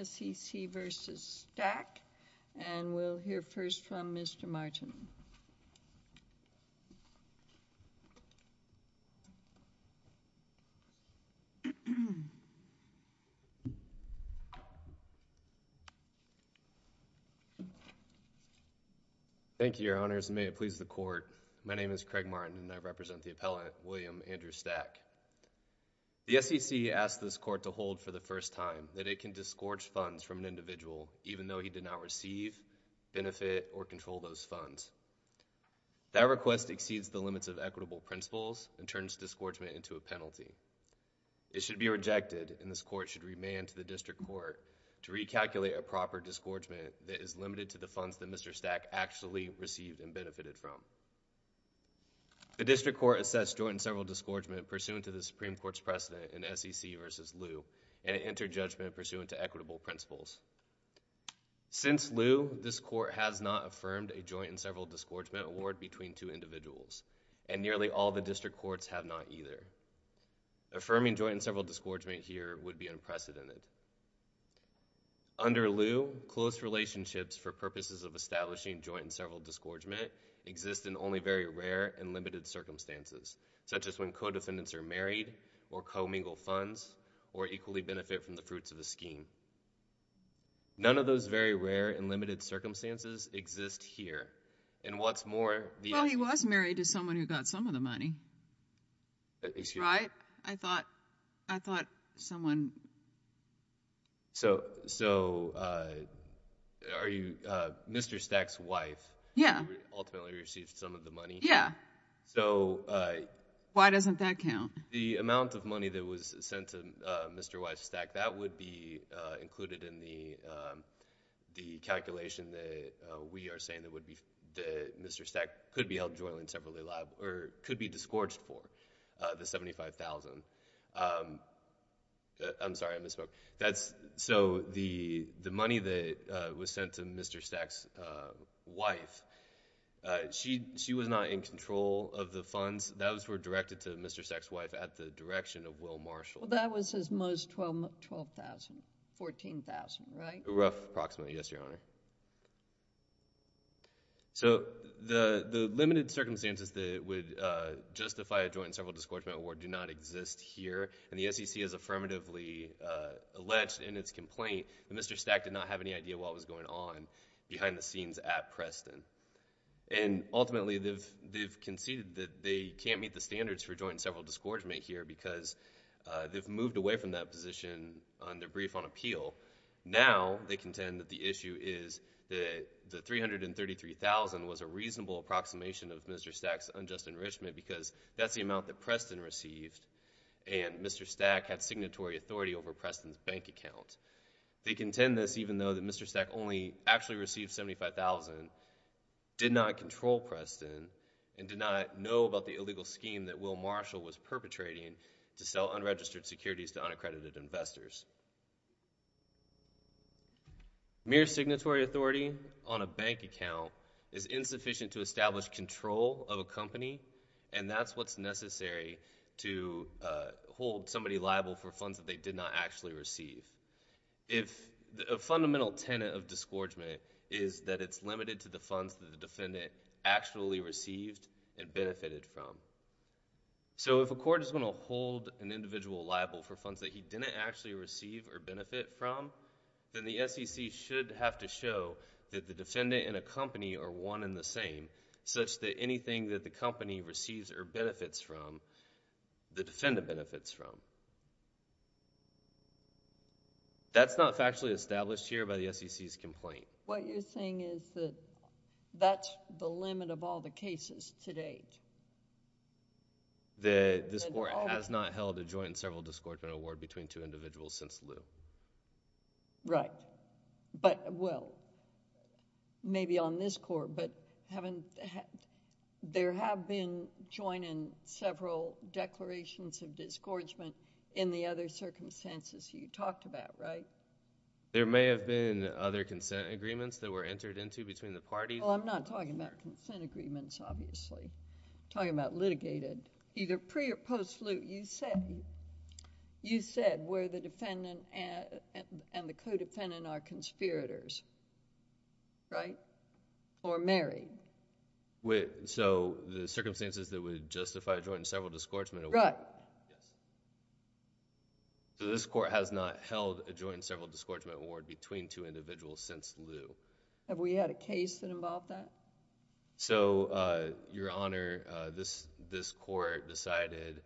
S.E.C. v. Stack and we'll hear first from Mr. Martin. Thank you, Your Honors, and may it please the Court, my name is Craig Martin and I represent the Appellant, William Andrew Stack. The S.E.C. asked this Court to hold for the first time that it can disgorge funds from an individual even though he did not receive, benefit, or control those funds. That request exceeds the limits of equitable principles and turns disgorgement into a penalty. It should be rejected and this Court should remand to the District Court to recalculate a proper disgorgement that is limited to the funds that Mr. Stack actually received and benefited from. The District Court assessed joint and several disgorgement pursuant to the Supreme Court's precedent in S.E.C. v. Liu and it entered judgment pursuant to equitable principles. Since Liu, this Court has not affirmed a joint and several disgorgement award between two individuals and nearly all the District Courts have not either. Affirming joint and several disgorgement here would be unprecedented. Under Liu, close relationships for purposes of establishing joint and several disgorgement exist in only very rare and limited circumstances, such as when co-defendants are married or co-mingle funds or equally benefit from the fruits of a scheme. None of those very rare and limited circumstances exist here and what's more, the S.E.C. Well, he was married to someone who got some of the money, right? I thought, I thought someone. So are you Mr. Stack's wife? Yeah. Ultimately received some of the money? Yeah. So. Why doesn't that count? The amount of money that was sent to Mr. Wise Stack, that would be included in the calculation that we are saying that Mr. Stack could be held jointly and separately alive or could be disgorged for, the $75,000. I'm sorry, I misspoke. So the money that was sent to Mr. Stack's wife, she was not in control of the funds. Those were directed to Mr. Stack's wife at the direction of Will Marshall. Well, that was his most $12,000, $14,000, right? Approximately, yes, Your Honor. So the limited circumstances that would justify a joint and several disgorgement award do not exist here, and the SEC has affirmatively alleged in its complaint that Mr. Stack did not have any idea what was going on behind the scenes at Preston. And ultimately, they've conceded that they can't meet the standards for joint and several disgorgement here because they've moved away from that position on their brief on appeal. Now they contend that the issue is that the $333,000 was a reasonable approximation of what Preston received, and Mr. Stack had signatory authority over Preston's bank account. They contend this even though that Mr. Stack only actually received $75,000, did not control Preston, and did not know about the illegal scheme that Will Marshall was perpetrating to sell unregistered securities to unaccredited investors. Mere signatory authority on a bank account is insufficient to establish control of a to hold somebody liable for funds that they did not actually receive. A fundamental tenet of disgorgement is that it's limited to the funds that the defendant actually received and benefited from. So if a court is going to hold an individual liable for funds that he didn't actually receive or benefit from, then the SEC should have to show that the defendant and a company are one and the same, such that anything that the company receives or benefits from, the defendant benefits from. That's not factually established here by the SEC's complaint. What you're saying is that that's the limit of all the cases to date? This court has not held a joint and several disgorgement award between two individuals since Lew. Right, but well, maybe on this court, but there have been joint and several declarations of disgorgement in the other circumstances you talked about, right? There may have been other consent agreements that were entered into between the parties. Well, I'm not talking about consent agreements, obviously. I'm talking about litigated, either pre or post Lew. You said where the defendant and the co-defendant are conspirators, right? Or married. So the circumstances that would justify a joint and several disgorgement award... Right. Yes. So this court has not held a joint and several disgorgement award between two individuals since Lew. Have we had a case that involved that? So Your Honor, this court decided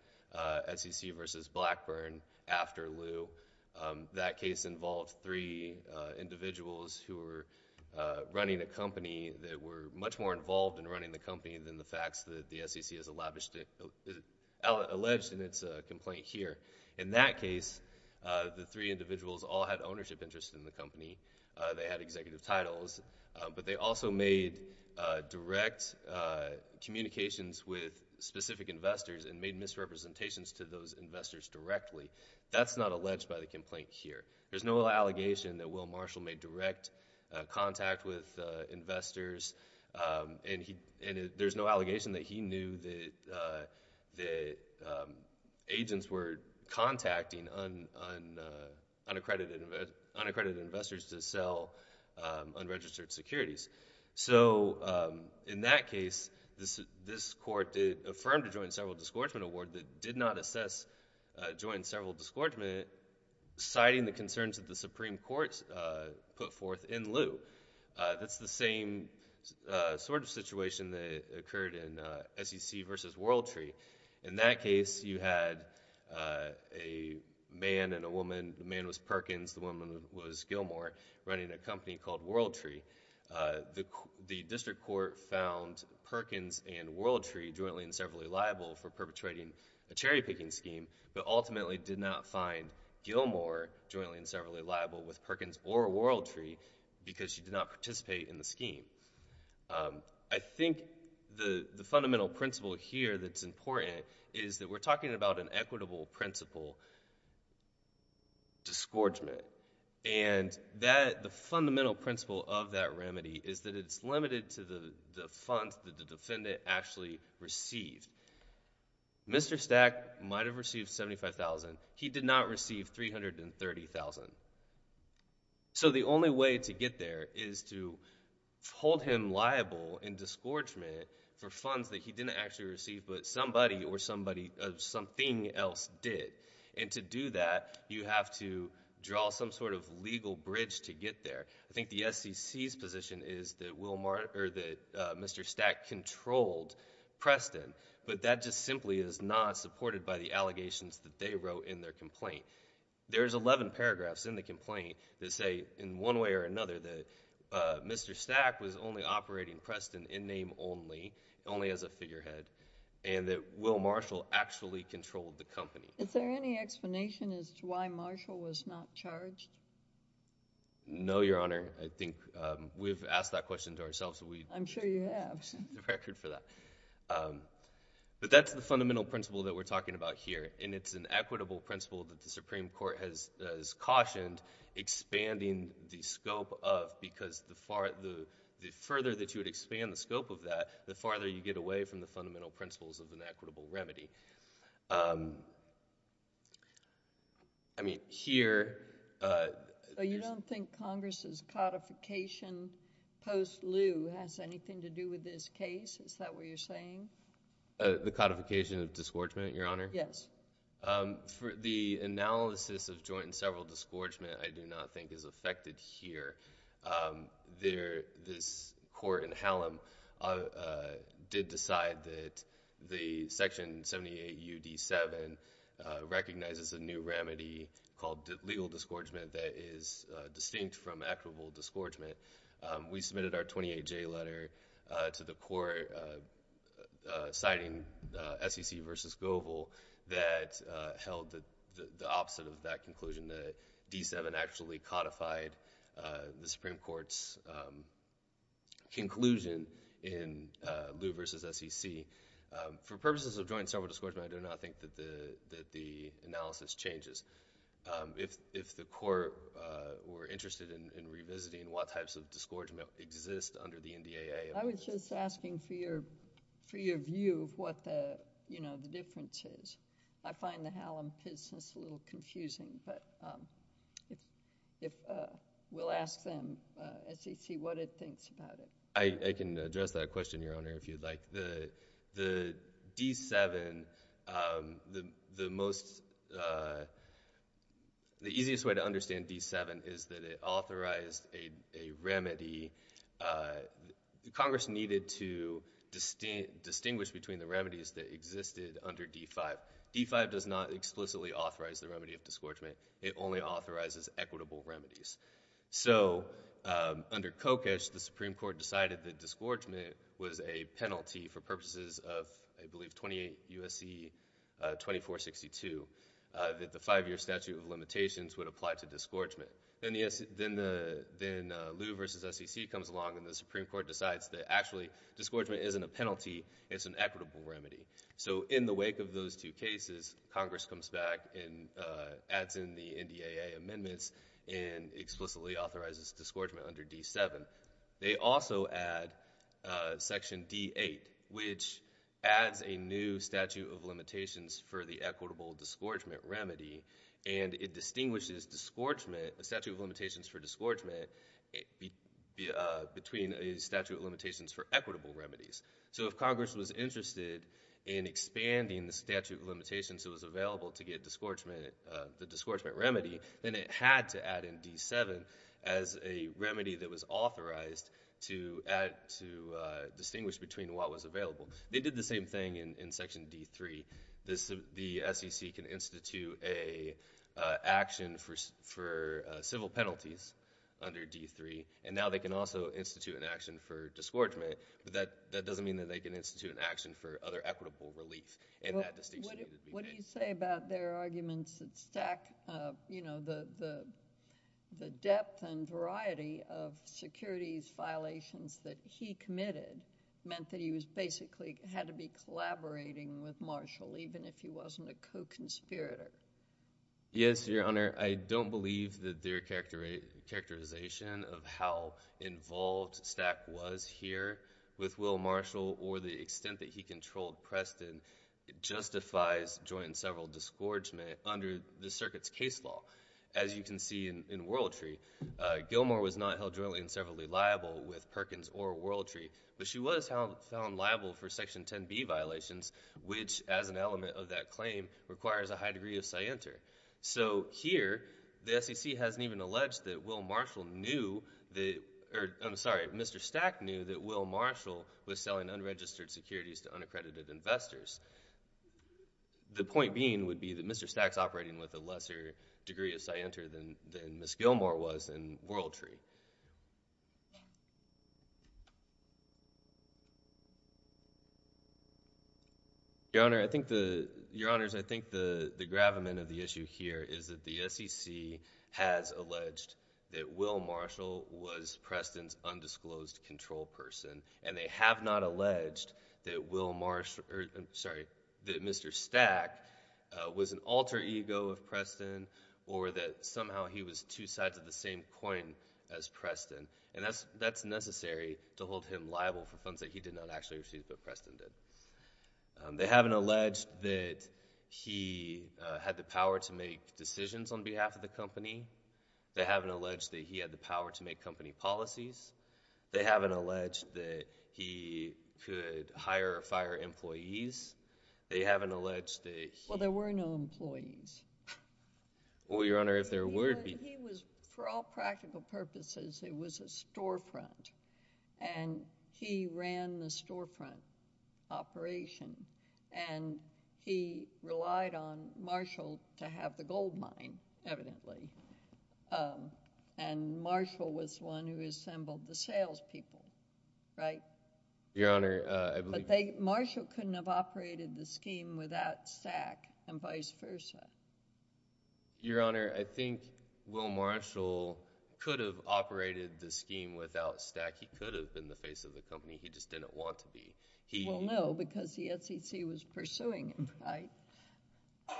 SEC v. Blackburn after Lew. That case involved three individuals who were running a company that were much more involved in running the company than the facts that the SEC has alleged in its complaint here. In that case, the three individuals all had ownership interest in the company. They had executive titles, but they also made direct communications with specific investors and made misrepresentations to those investors directly. That's not alleged by the complaint here. There's no allegation that Will Marshall made direct contact with investors, and there's no allegation that he knew that agents were contacting unaccredited investors to sell unregistered securities. So in that case, this court affirmed a joint and several disgorgement award that did not assess joint and several disgorgement, citing the concerns that the Supreme Court put forth in Lew. That's the same sort of situation that occurred in SEC v. Worldtree. In that case, you had a man and a woman. The man was Perkins. The woman was Gilmore, running a company called Worldtree. The district court found Perkins and Worldtree jointly and severally liable for perpetrating a cherry-picking scheme, but ultimately did not find Gilmore jointly and severally liable with Perkins or Worldtree because she did not participate in the scheme. I think the fundamental principle here that's important is that we're talking about an equitable principle, disgorgement, and the fundamental principle of that remedy is that it's limited to the funds that the defendant actually received. Mr. Stack might have received $75,000. He did not receive $330,000. So the only way to get there is to hold him liable in disgorgement for funds that he didn't actually receive, but somebody or something else did. To do that, you have to draw some sort of legal bridge to get there. I think the SEC's position is that Mr. Stack controlled Preston, but that just simply is not supported by the allegations that they wrote in their complaint. There's 11 paragraphs in the complaint that say in one way or another that Mr. Stack was a figurehead and that Will Marshall actually controlled the company. Is there any explanation as to why Marshall was not charged? No, Your Honor. I think we've asked that question to ourselves. I'm sure you have. We have a record for that, but that's the fundamental principle that we're talking about here, and it's an equitable principle that the Supreme Court has cautioned expanding the scope of because the further that you would expand the scope of that, the farther you get away from the fundamental principles of an equitable remedy. I mean, here... So you don't think Congress's codification post-lieu has anything to do with this case? Is that what you're saying? The codification of disgorgement, Your Honor? Yes. The analysis of joint and several disgorgement I do not think is affected here. This court in Hallam did decide that the Section 78U D-7 recognizes a new remedy called legal disgorgement that is distinct from equitable disgorgement. We submitted our 28-J letter to the court signing SEC v. Goebel that held the opposite of that conclusion, that D-7 actually codified the Supreme Court's conclusion in Lieu v. SEC. For purposes of joint and several disgorgement, I do not think that the analysis changes. If the court were interested in revisiting what types of disgorgement exist under the NDAA... I was just asking for your view of what the difference is. I find the Hallam case a little confusing, but we'll ask them, SEC, what it thinks about it. I can address that question, Your Honor, if you'd like. The D-7, the easiest way to understand D-7 is that it authorized a remedy. Congress needed to distinguish between the remedies that existed under D-5. D-5 does not explicitly authorize the remedy of disgorgement. It only authorizes equitable remedies. Under Kokosch, the Supreme Court decided that disgorgement was a penalty for purposes of, I believe, 28 U.S.C. 2462, that the five-year statute of limitations would apply to disgorgement. Then Lieu v. SEC comes along and the Supreme Court decides that actually disgorgement isn't a penalty, it's an equitable remedy. In the wake of those two cases, Congress comes back and adds in the NDAA amendments and explicitly authorizes disgorgement under D-7. They also add Section D-8, which adds a new statute of limitations for the equitable disgorgement remedy, and it distinguishes statute of limitations for disgorgement between a statute of limitations for equitable remedies. If Congress was interested in expanding the statute of limitations that was available to get the disgorgement remedy, then it had to add in D-7 as a remedy that was authorized to distinguish between what was available. They did the same thing in Section D-3. The SEC can institute an action for civil penalties under D-3, and now they can also institute an action for disgorgement, but that doesn't mean that they can institute an action for other equitable relief in that distinction. What do you say about their arguments that stack, you know, the depth and variety of securities violations that he committed meant that he basically had to be collaborating with Marshall even if he wasn't a co-conspirator? Yes, Your Honor. I don't believe that their characterization of how involved stack was here with Will Marshall or the extent that he controlled Preston justifies joint and several disgorgement under the circuit's case law. As you can see in Worldtree, Gilmore was not held jointly and severally liable with Perkins or Worldtree, but she was held liable for Section 10b violations, which as an element of that claim requires a high degree of scienter. So here, the SEC hasn't even alleged that Will Marshall knew, or I'm sorry, Mr. Stack knew that Will Marshall was selling unregistered securities to unaccredited investors. The point being would be that Mr. Stack's operating with a lesser degree of scienter than Ms. Gilmore was in Worldtree. Your Honor, I think the—Your Honors, I think the gravamen of the issue is that the SEC has alleged that Will Marshall was Preston's undisclosed control person, and they have not alleged that Mr. Stack was an alter ego of Preston or that somehow he was two sides of the same coin as Preston. That's necessary to hold him liable for funds that he did not actually receive but Preston did. They haven't alleged that he had the power to make decisions on behalf of the company. They haven't alleged that he had the power to make company policies. They haven't alleged that he could hire or fire employees. They haven't alleged that he— Well, there were no employees. Well, Your Honor, if there were— He was, for all practical purposes, it was a storefront, and he ran the storefront. He ran the operation, and he relied on Marshall to have the gold mine, evidently, and Marshall was the one who assembled the salespeople, right? Your Honor, I believe— But they—Marshall couldn't have operated the scheme without Stack and vice versa. Your Honor, I think Will Marshall could have operated the scheme without Stack. He could have been the face of the company. He just didn't want to be. Well, no, because the SEC was pursuing him, right?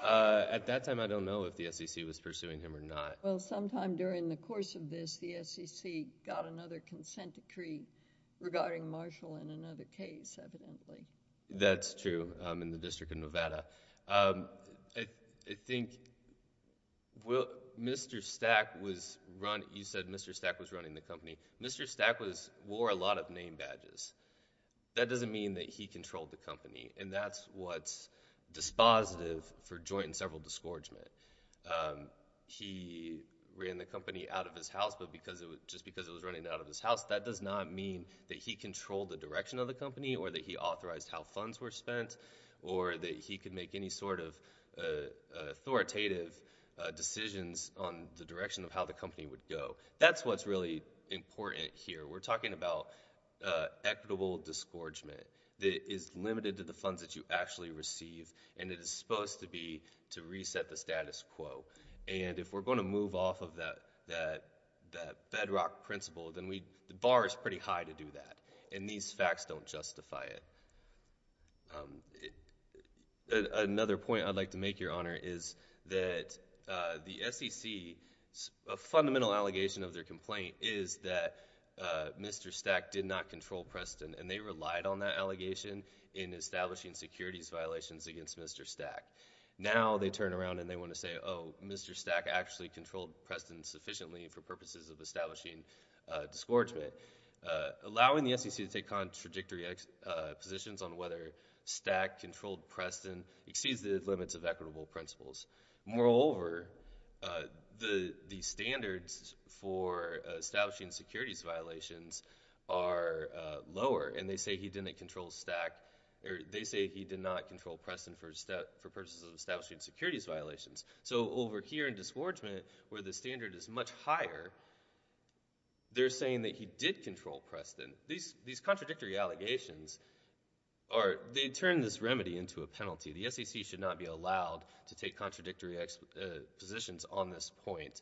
At that time, I don't know if the SEC was pursuing him or not. Well, sometime during the course of this, the SEC got another consent decree regarding Marshall in another case, evidently. That's true, in the District of Nevada. I think Mr. Stack was—you said Mr. Stack was running the company. Mr. Stack wore a lot of name badges. That doesn't mean that he controlled the company, and that's what's dispositive for joint and several disgorgement. He ran the company out of his house, but just because it was running out of his house, that does not mean that he controlled the direction of the company or that he authorized how funds were spent or that he could make any sort of authoritative decisions on the direction of how the company would go. That's what's really important here. We're talking about equitable disgorgement that is limited to the funds that you actually receive, and it is supposed to be to reset the status quo. If we're going to move off of that bedrock principle, then the bar is pretty high to do that, and these facts don't justify it. Another point I'd like to make, Your Honor, is that the SEC—a fundamental allegation of their complaint is that Mr. Stack did not control Preston, and they relied on that allegation in establishing securities violations against Mr. Stack. Now they turn around and they want to say, oh, Mr. Stack actually controlled Preston sufficiently for purposes of establishing disgorgement, allowing the stack controlled Preston, exceeds the limits of equitable principles. Moreover, the standards for establishing securities violations are lower, and they say he did not control Preston for purposes of establishing securities violations. So over here in disgorgement, where the standard is much higher, they're saying that he did control Preston. These contradictory allegations, they turn this remedy into a penalty. The SEC should not be allowed to take contradictory positions on this point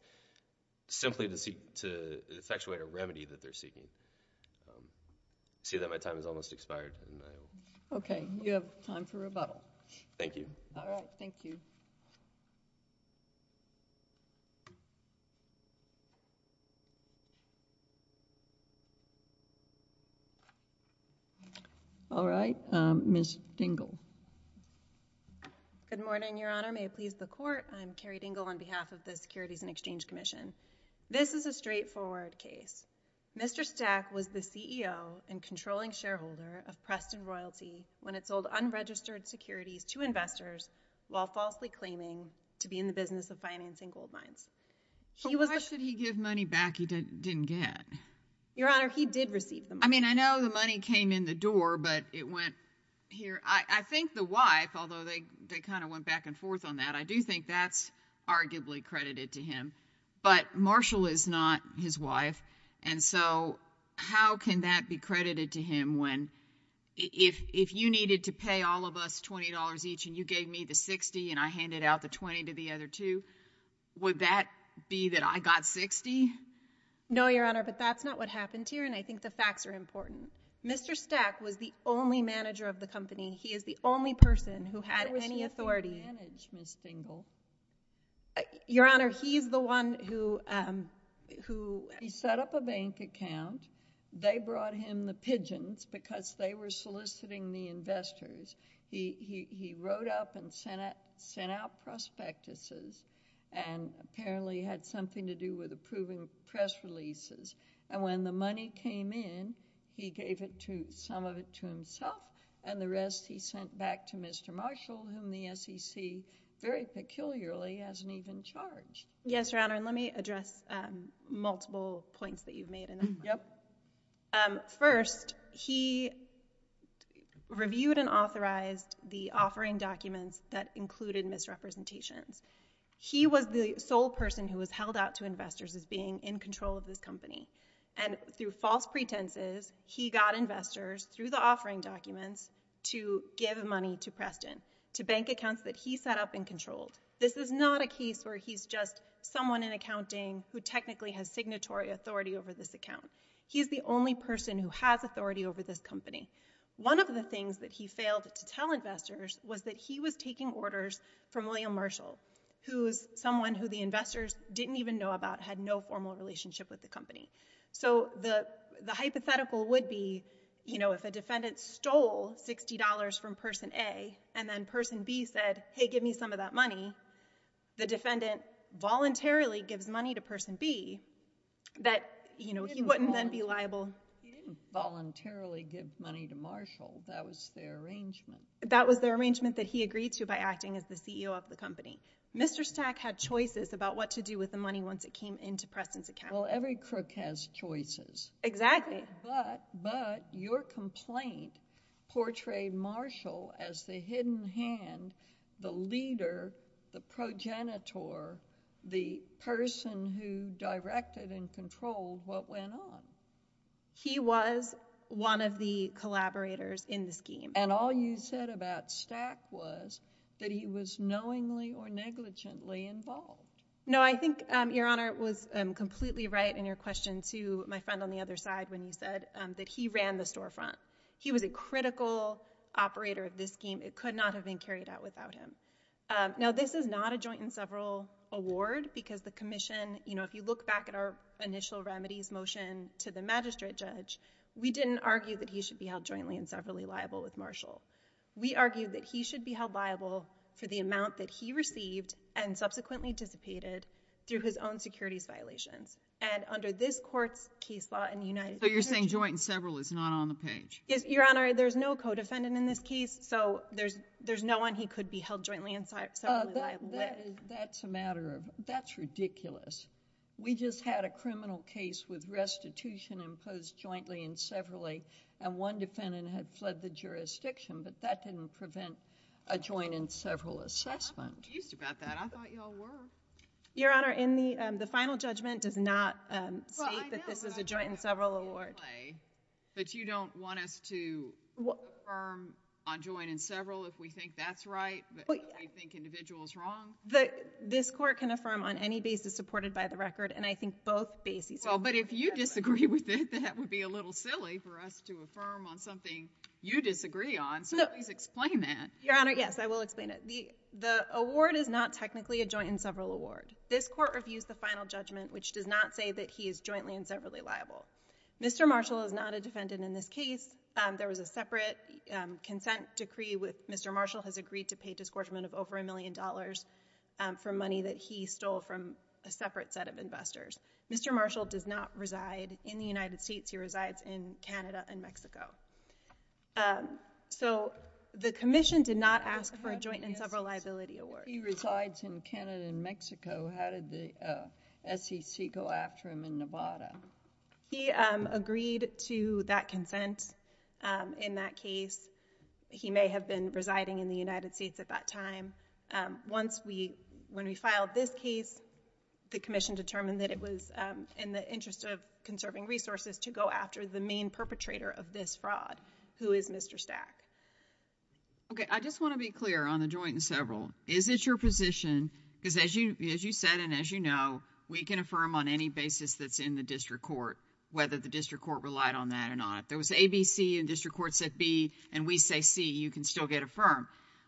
simply to effectuate a remedy that they're seeking. I see that my time has almost expired. Okay. You have time for rebuttal. Thank you. All right. Ms. Dingell. Good morning, Your Honor. May it please the Court. I'm Carrie Dingell on behalf of the Securities and Exchange Commission. This is a straightforward case. Mr. Stack was the CEO and controlling shareholder of Preston Royalty when it sold unregistered securities to investors while falsely claiming to be in the business of financing gold mines. He was the— But why should he give money back he didn't get? I don't know. I don't know. I don't know. I don't know. I don't know. I don't know. I don't know. I mean, I know the money came in the door, but it went here. I think the wife, although they kind of went back and forth on that, I do think that's arguably credited to him, but Marshall is not his wife, and so how can that be credited to him when—if you needed to pay all of us $20 each and you gave me the 60 and I handed out the 20 to the other two, would that be that I got 60? No, Your Honor, but that's not what happened here, and I think the facts are important. Mr. Stack was the only manager of the company. He is the only person who had any authority— Where was he the one who managed, Ms. Stengel? Your Honor, he's the one who— He set up a bank account. They brought him the pigeons because they were soliciting the investors. He wrote up and sent out prospectuses and apparently had something to do with approving press releases, and when the money came in, he gave some of it to himself, and the rest he sent back to Mr. Marshall, whom the SEC, very peculiarly, hasn't even charged. Yes, Your Honor, and let me address multiple points that you've made in that. Yep. First, he reviewed and authorized the offering documents that included misrepresentations. He was the sole person who was held out to investors as being in control of this company, and through false pretenses, he got investors, through the offering documents, to give money to Preston, to bank accounts that he set up and controlled. This is not a case where he's just someone in accounting who technically has signatory authority over this account. He's the only person who has authority over this company. One of the things that he failed to tell investors was that he was taking orders from William Marshall, who is someone who the investors didn't even know about, had no formal relationship with the company. The hypothetical would be, if a defendant stole $60 from person A, and then person B said, hey, give me some of that money, the defendant voluntarily gives money to person B, that he wouldn't then be liable... He didn't voluntarily give money to Marshall. That was their arrangement. It was an arrangement that he agreed to by acting as the CEO of the company. Mr. Stack had choices about what to do with the money once it came into Preston's account. Well, every crook has choices. Exactly. But, but, your complaint portrayed Marshall as the hidden hand, the leader, the progenitor, the person who directed and controlled what went on. He was one of the collaborators in the scheme. And all you said about Stack was that he was knowingly or negligently involved. No, I think, Your Honor, was completely right in your question to my friend on the other side when you said that he ran the storefront. He was a critical operator of this scheme. It could not have been carried out without him. Now, this is not a joint and several award because the commission, you know, if you look back at our initial remedies motion to the magistrate judge, we didn't argue that he should be held jointly and severally liable with Marshall. We argued that he should be held liable for the amount that he received and subsequently dissipated through his own securities violations. And under this court's case law in the United States... So you're saying joint and several is not on the page? Yes, Your Honor, there's no co-defendant in this case, so there's, there's no one he could be held jointly and severally liable with. That's a matter of, that's ridiculous. We just had a criminal case with restitution imposed jointly and severally and one defendant had fled the jurisdiction, but that didn't prevent a joint and several assessment. I'm confused about that. I thought y'all were. Your Honor, in the, um, the final judgment does not, um, state that this is a joint and several award. Well, I know about that in the play, but you don't want us to affirm on joint and several if we think that's right, but if we think individual is wrong? The, this court can affirm on any basis supported by the record, and I think both bases... Well, but if you disagree with it, that would be a little silly for us to affirm on something you disagree on, so please explain that. Your Honor, yes, I will explain it. The award is not technically a joint and several award. This court reviews the final judgment, which does not say that he is jointly and severally liable. Mr. Marshall is not a defendant in this case. Um, there was a separate, um, consent decree with Mr. Marshall has agreed to pay a disgorgement of over a million dollars, um, for money that he stole from a separate set of investors. Mr. Marshall does not reside in the United States. He resides in Canada and Mexico. Um, so the commission did not ask for a joint and several liability award. If he resides in Canada and Mexico, how did the, uh, SEC go after him in Nevada? He, um, agreed to that consent, um, in that case. He may have been residing in the United States at that time. Um, once we, when we filed this case, the commission determined that it was, um, in the interest of conserving resources to go after the main perpetrator of this fraud, who is Mr. Stack. Okay, I just want to be clear on the joint and several. Is it your position, because as you, as you said and as you know, we can affirm on any basis that's in the district court whether the district court relied on that or not. There was A, B, C, and district court said B, and we say C, you can still get affirmed.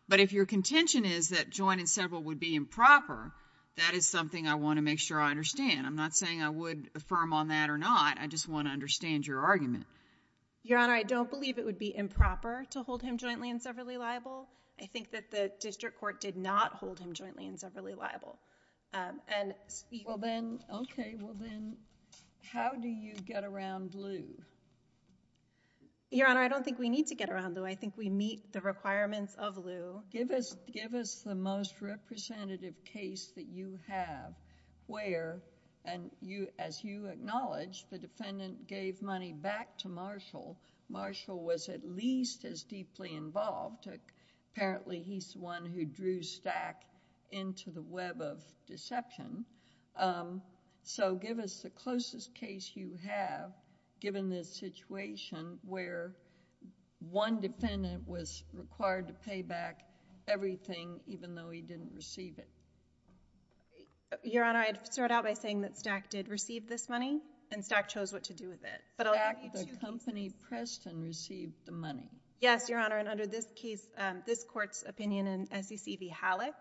But if your contention is that joint and several would be improper, that is something I want to make sure I understand. I'm not saying I would affirm on that or not, I just want to understand your argument. Your Honor, I don't believe it would be improper to hold him jointly and severally liable. I think that the district court did not hold him jointly and severally liable, um, and speak. Okay, well then, okay, well then, how do you get around Lew? Your Honor, I don't think we need to get around Lew. I think we meet the requirements of Lew. Give us, give us the most representative case that you have where, and you, as you acknowledge, the defendant gave money back to Marshall. Marshall was at least as deeply involved, apparently he's the one who drew Stack into the web of deception, um, so give us the closest case you have given this situation where one defendant was required to pay back everything even though he didn't receive it. Your Honor, I'd start out by saying that Stack did receive this money, and Stack chose what to do with it. But I'll give you two cases. Stack, the company pressed and received the money. Yes, Your Honor, and under this case, um, this court's opinion in SEC v. Halleck,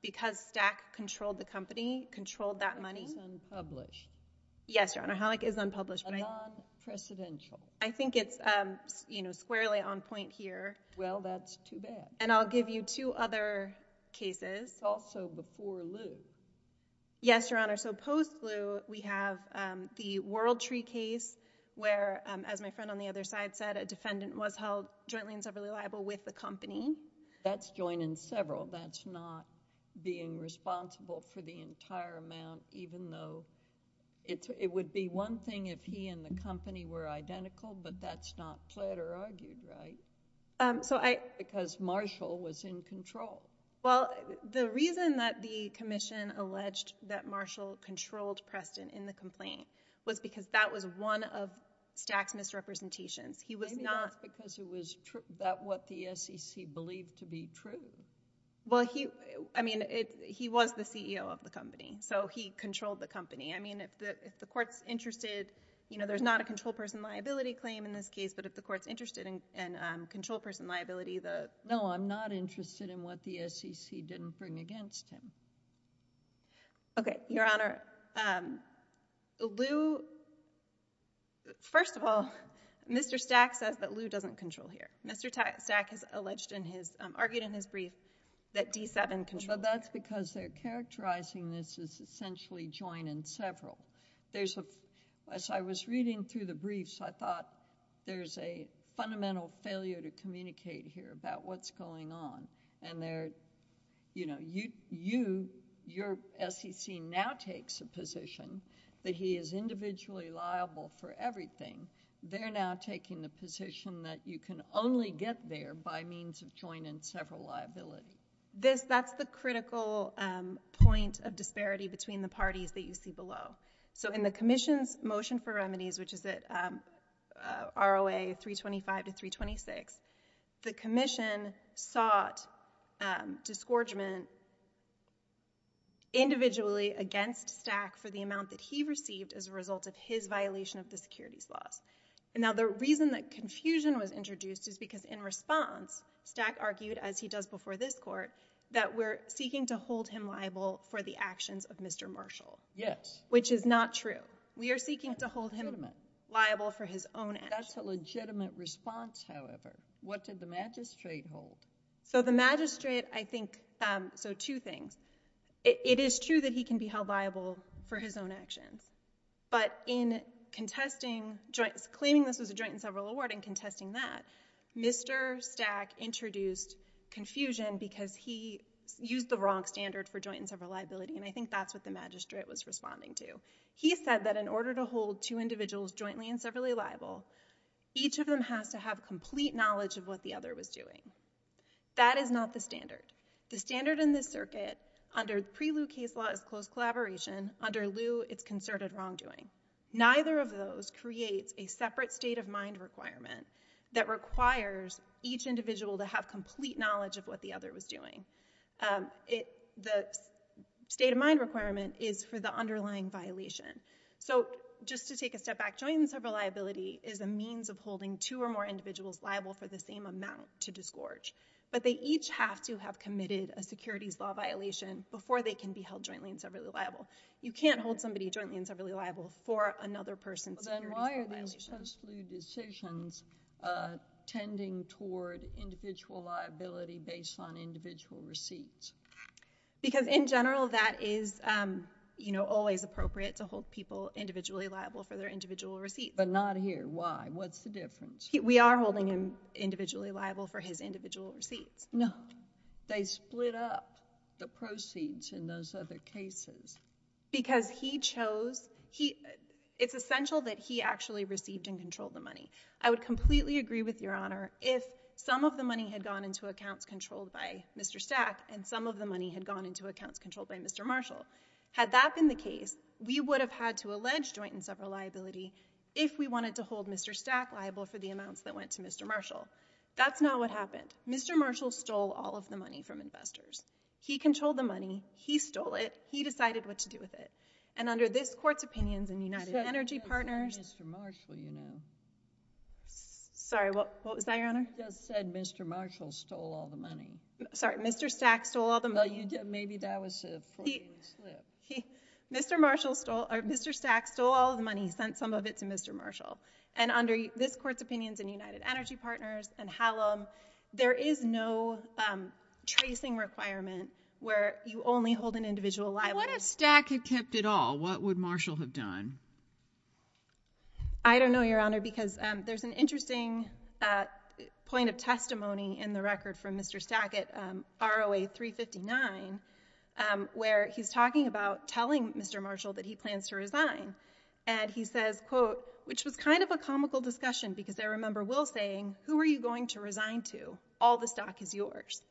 because Stack controlled the company, controlled that money. Halleck is unpublished. Yes, Your Honor, Halleck is unpublished, right? A non-precedential. I think it's, um, you know, squarely on point here. Well, that's too bad. And I'll give you two other cases. Also before Lew. Yes, Your Honor, so post-Lew, we have, um, the Worldtree case where, um, as my friend on the other side said, a defendant was held jointly and severally liable with the company. That's joining several. That's not being responsible for the entire amount, even though it's, it would be one thing if he and the company were identical, but that's not pled or argued, right? Um, so I... Because Marshall was in control. Well, the reason that the commission alleged that Marshall controlled Preston in the complaint was because that was one of Stack's misrepresentations. He was not... That's not what he believed to be true. Well, he... I mean, it... he was the CEO of the company, so he controlled the company. I mean, if the, if the court's interested, you know, there's not a control person liability claim in this case, but if the court's interested in, in, um, control person liability, the... No, I'm not interested in what the SEC didn't bring against him. Okay. Your Honor, um, Lew... First of all, Mr. Stack says that Lew doesn't control here. Mr. Stack has alleged in his, um, argued in his brief that D7 controls... Well, that's because they're characterizing this as essentially joint and several. There's a... As I was reading through the briefs, I thought there's a fundamental failure to communicate here about what's going on, and they're, you know, you, your SEC now takes a position that he is individually liable for everything. They're now taking the position that you can only get there by means of joint and several liability. This, that's the critical, um, point of disparity between the parties that you see below. So in the Commission's motion for remedies, which is at, um, ROA 325 to 326, the Commission sought, um, disgorgement individually against Stack for the amount that he received as a result. And now the reason that confusion was introduced is because in response, Stack argued, as he does before this Court, that we're seeking to hold him liable for the actions of Mr. Marshall. Yes. Which is not true. We are seeking to hold him liable for his own actions. That's a legitimate response, however. What did the magistrate hold? So the magistrate, I think, um, so two things. It is true that he can be held liable for his own actions. But in contesting joint, claiming this was a joint and several award and contesting that, Mr. Stack introduced confusion because he used the wrong standard for joint and several liability. And I think that's what the magistrate was responding to. He said that in order to hold two individuals jointly and severally liable, each of them has to have complete knowledge of what the other was doing. That is not the standard. The standard in this circuit under pre-Lieu case law is close collaboration. Under Lieu, it's concerted wrongdoing. Neither of those creates a separate state of mind requirement that requires each individual to have complete knowledge of what the other was doing. Um, it, the state of mind requirement is for the underlying violation. So just to take a step back, joint and several liability is a means of holding two or more individuals liable for the same amount to disgorge. But they each have to have committed a securities law violation before they can be held jointly and severally liable. You can't hold somebody jointly and severally liable for another person's securities law violation. But then why are these post-Lieu decisions, uh, tending toward individual liability based on individual receipts? Because in general, that is, um, you know, always appropriate to hold people individually liable for their individual receipts. But not here. Why? What's the difference? We are holding him individually liable for his individual receipts. No. Why? They split up the proceeds in those other cases. Because he chose, he, it's essential that he actually received and controlled the money. I would completely agree with Your Honor if some of the money had gone into accounts controlled by Mr. Stack and some of the money had gone into accounts controlled by Mr. Marshall. Had that been the case, we would have had to allege joint and several liability if we wanted to hold Mr. Stack liable for the amounts that went to Mr. Marshall. That's not what happened. Mr. Marshall stole all of the money from investors. He controlled the money. He stole it. He decided what to do with it. And under this Court's opinions in United Energy Partners... You said Mr. Marshall, you know. Sorry. What was that, Your Honor? You just said Mr. Marshall stole all the money. Sorry. Mr. Stack stole all the money. Well, you did. Maybe that was a fraudulent slip. He, he, Mr. Marshall stole, or Mr. Stack stole all the money, sent some of it to Mr. Marshall. And under this Court's opinions in United Energy Partners and Hallam, there is no tracing requirement where you only hold an individual liable. What if Stack had kept it all? What would Marshall have done? I don't know, Your Honor, because there's an interesting point of testimony in the record from Mr. Stack at ROA 359 where he's talking about telling Mr. Marshall that he plans to resign. And he says, quote, which was kind of a comical discussion because I remember Will saying, who are you going to resign to? All the stock is yours.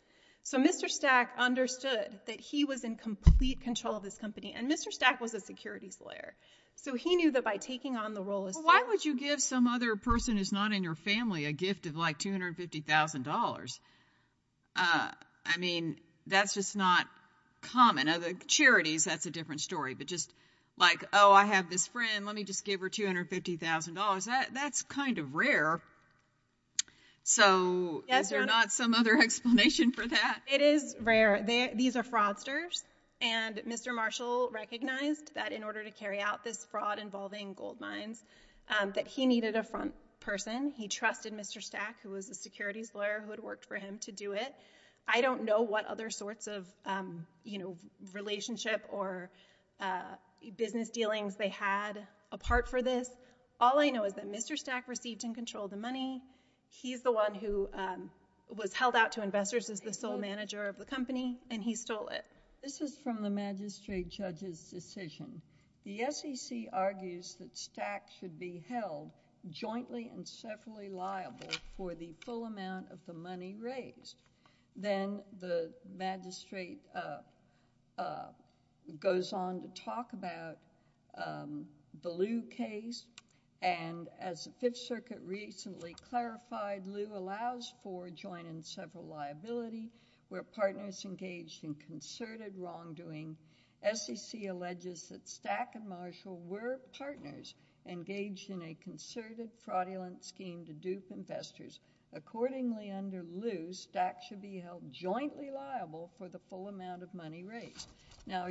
So Mr. Stack understood that he was in complete control of this company. And Mr. Stack was a securities lawyer. So he knew that by taking on the role as... Well, why would you give some other person who's not in your family a gift of like $250,000? I mean, that's just not common. Now, the charities, that's a different story. But just like, oh, I have this friend, let me just give her $250,000. That's kind of rare. So is there not some other explanation for that? It is rare. These are fraudsters. And Mr. Marshall recognized that in order to carry out this fraud involving gold mines, that he needed a front person. He trusted Mr. Stack, who was a securities lawyer who had worked for him to do it. I don't know what other sorts of relationship or business dealings they had apart for this. All I know is that Mr. Stack received and controlled the money. He's the one who was held out to investors as the sole manager of the company, and he stole it. This is from the magistrate judge's decision. The SEC argues that Stack should be held jointly and separately liable for the full amount of the money raised. Then the magistrate goes on to talk about the Lew case, and as the Fifth Circuit recently clarified, Lew allows for joining several liability where partners engaged in concerted wrongdoing. SEC alleges that Stack and Marshall were partners engaged in a concerted fraudulent scheme to under Lew, Stack should be held jointly liable for the full amount of money raised. Now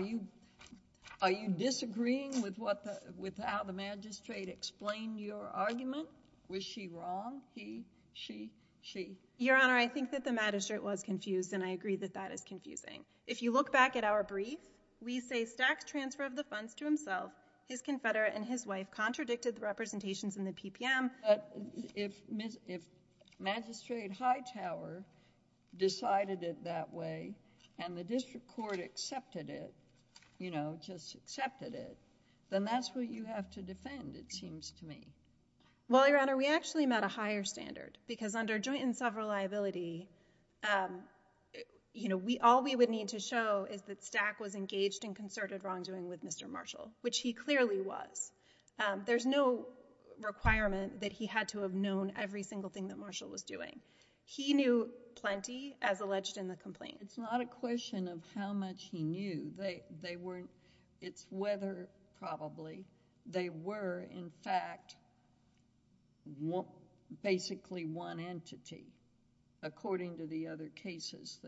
are you disagreeing with how the magistrate explained your argument? Was she wrong? He? She? She? Your Honor, I think that the magistrate was confused, and I agree that that is confusing. If you look back at our brief, we say Stack's transfer of the funds to himself, his confederate, and his wife contradicted the representations in the PPM. But if Magistrate Hightower decided it that way, and the district court accepted it, you know, just accepted it, then that's what you have to defend, it seems to me. Well, Your Honor, we actually met a higher standard, because under joint and self-reliability, you know, all we would need to show is that Stack was engaged in concerted wrongdoing with Mr. Marshall, which he clearly was. There's no requirement that he had to have known every single thing that Marshall was doing. He knew plenty, as alleged in the complaint. It's not a question of how much he knew. They weren't... it's whether, probably, they were, in fact, basically one entity, according to the other cases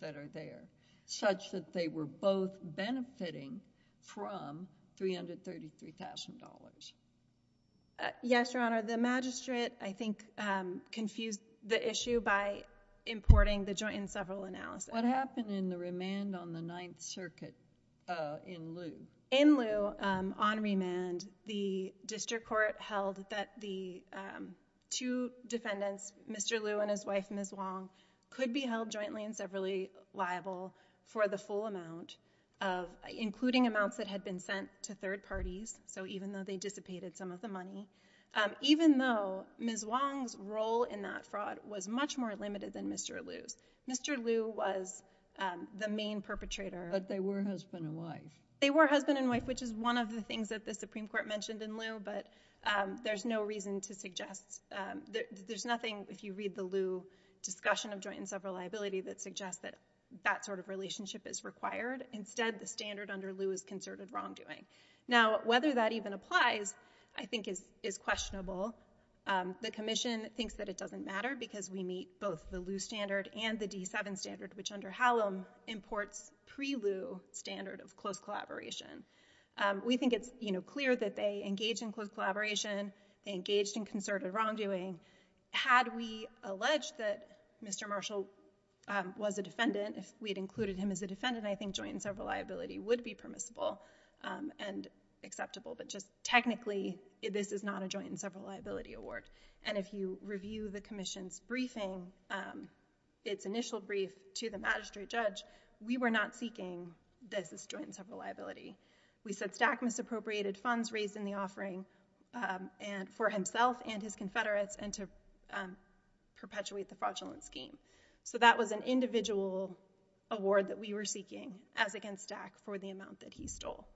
that are there, such that they were both benefiting from $333,000 Yes, Your Honor. The magistrate, I think, confused the issue by importing the joint and several analysis. What happened in the remand on the Ninth Circuit in Loo? In Loo, on remand, the district court held that the two defendants, Mr. Loo and his wife, Ms. Wong, could be held jointly and severally liable for the full amount, including amounts that had been sent to third parties, so even though they dissipated some of the money, even though Ms. Wong's role in that fraud was much more limited than Mr. Loo's. Mr. Loo was the main perpetrator. But they were husband and wife. They were husband and wife, which is one of the things that the Supreme Court mentioned in Loo, but there's no reason to suggest... there's nothing, if you read the Loo discussion of joint and several liability, that suggests that that sort of relationship is required. Instead, the standard under Loo is concerted wrongdoing. Now, whether that even applies, I think, is questionable. The Commission thinks that it doesn't matter because we meet both the Loo standard and the D7 standard, which under Hallam imports pre-Loo standard of close collaboration. We think it's clear that they engaged in close collaboration. They engaged in concerted wrongdoing. Had we alleged that Mr. Marshall was a defendant, if we had included him as a defendant, I think joint and several liability would be permissible and acceptable, but just technically, this is not a joint and several liability award. If you review the Commission's briefing, its initial brief to the magistrate judge, we were not seeking this as joint and several liability. We said Stack misappropriated funds raised in the offering for himself and his confederates and to perpetuate the fraudulent scheme. That was an individual award that we were seeking as against Stack for the amount that he stole.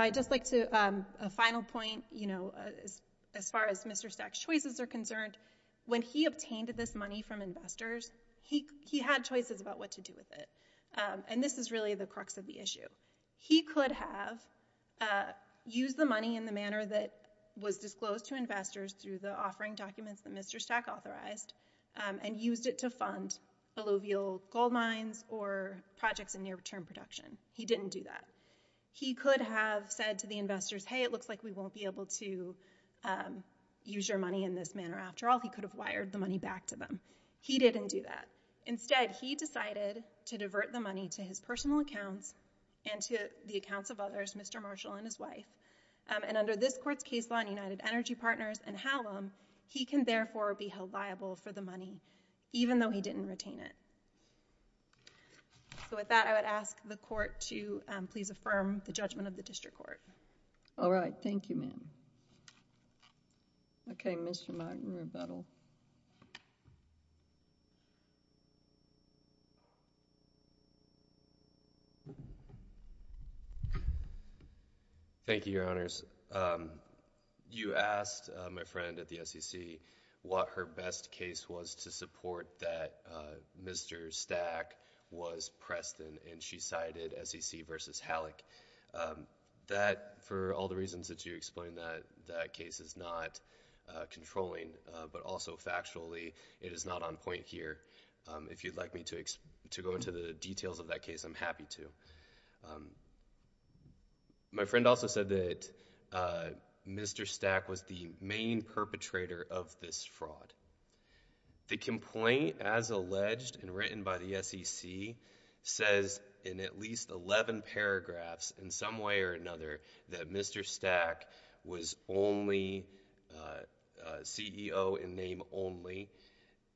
I'd just like to, a final point, as far as Mr. Stack's choices are concerned, when he obtained this money from investors, he had choices about what to do with it. This is really the crux of the issue. He could have used the money in the manner that was disclosed to investors through the offering documents that Mr. Stack authorized and used it to fund alluvial gold mines or projects in near-term production. He didn't do that. He could have said to the investors, hey, it looks like we won't be able to use your money in this manner after all. He could have wired the money back to them. He didn't do that. Instead, he decided to divert the money to his personal accounts and to the accounts of others, Mr. Marshall and his wife. Under this court's case law in United Energy Partners and Hallam, he can therefore be held liable for the money, even though he didn't retain it. With that, I would ask the court to please affirm the judgment of the district court. All right. Thank you, ma'am. Okay. Mr. Martin, rebuttal. Thank you, Your Honors. You asked my friend at the SEC what her best case was to support that Mr. Stack was Preston and she cited SEC versus Halleck. That, for all the reasons that you explained, that case is not controlling, but also factually it is not on point here. If you'd like me to go into the details of that case, I'm happy to. My friend also said that Mr. Stack was the main perpetrator of this fraud. The complaint, as alleged and written by the SEC, says in at least 11 paragraphs, in some way or another, that Mr. Stack was only CEO in name only,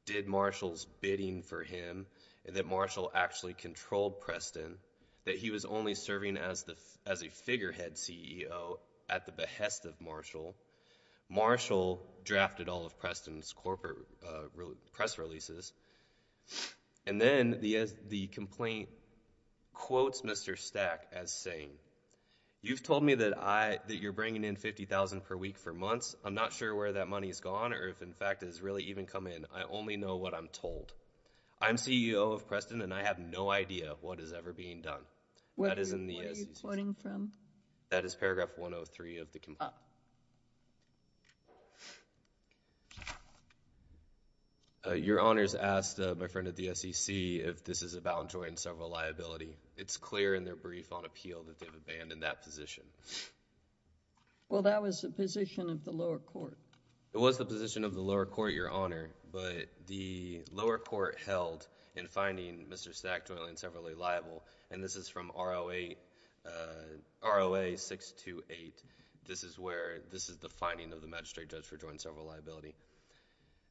did Marshall's bidding for him, that Marshall actually controlled Preston, that he was only serving as a figurehead CEO at the behest of Marshall. Marshall drafted all of Preston's corporate press releases and then the complaint quotes Mr. Stack as saying, you've told me that you're bringing in $50,000 per week for months. I'm not sure where that money's gone or if, in fact, it's really even come in. I only know what I'm told. I'm CEO of Preston and I have no idea what is ever being done. What are you quoting from? That is paragraph 103 of the complaint. Your Honor's asked my friend at the SEC if this is about joint and several liability. It's clear in their brief on appeal that they've abandoned that position. Well, that was the position of the lower court. It was the position of the lower court, Your Honor, but the lower court held in finding Mr. Stack jointly and severally liable, and this is from ROA 628. This is the finding of the magistrate judge for joint and several liability.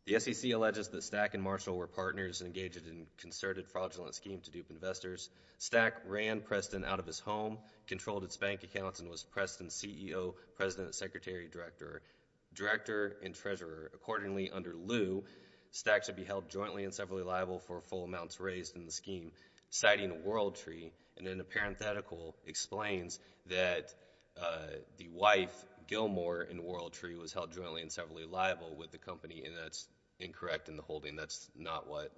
The SEC alleges that Stack and Marshall were partners engaged in concerted fraudulent scheme to dupe investors. Stack ran Preston out of his home, controlled its bank accounts, and was Preston's CEO, President, Secretary, Director, and Treasurer. Accordingly, under lieu, Stack should be held jointly and severally liable for full amounts raised in the scheme, citing Worldtree, and then the parenthetical explains that the wife, Gilmore and Worldtree, was held jointly and severally liable with the company, and that's incorrect in the holding. That's not what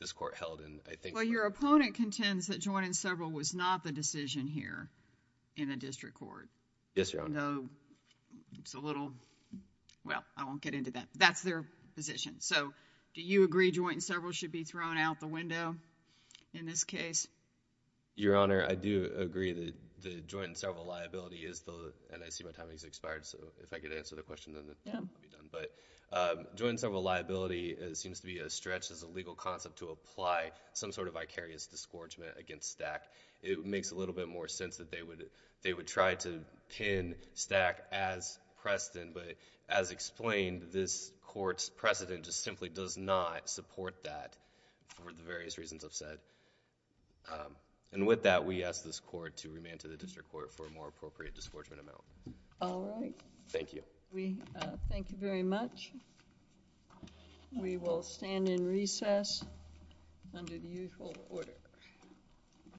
this court held in, I think. Well, your opponent contends that joint and several was not the decision here in the district court. Yes, Your Honor. No, it's a little, well, I won't get into that. That's their position. So, do you agree joint and several should be thrown out the window in this case? Your Honor, I do agree that the joint and several liability is the, and I see my time has expired, so if I could answer the question, then I'll be done. But joint and several liability seems to be a stretch as a legal concept to apply some sort of vicarious disgorgement against Stack. It makes a little bit more sense that they would try to pin Stack as Preston, but as simply does not support that for the various reasons I've said. And with that, we ask this court to remain to the district court for a more appropriate disgorgement amount. All right. Thank you. We thank you very much. We will stand in recess under the usual order.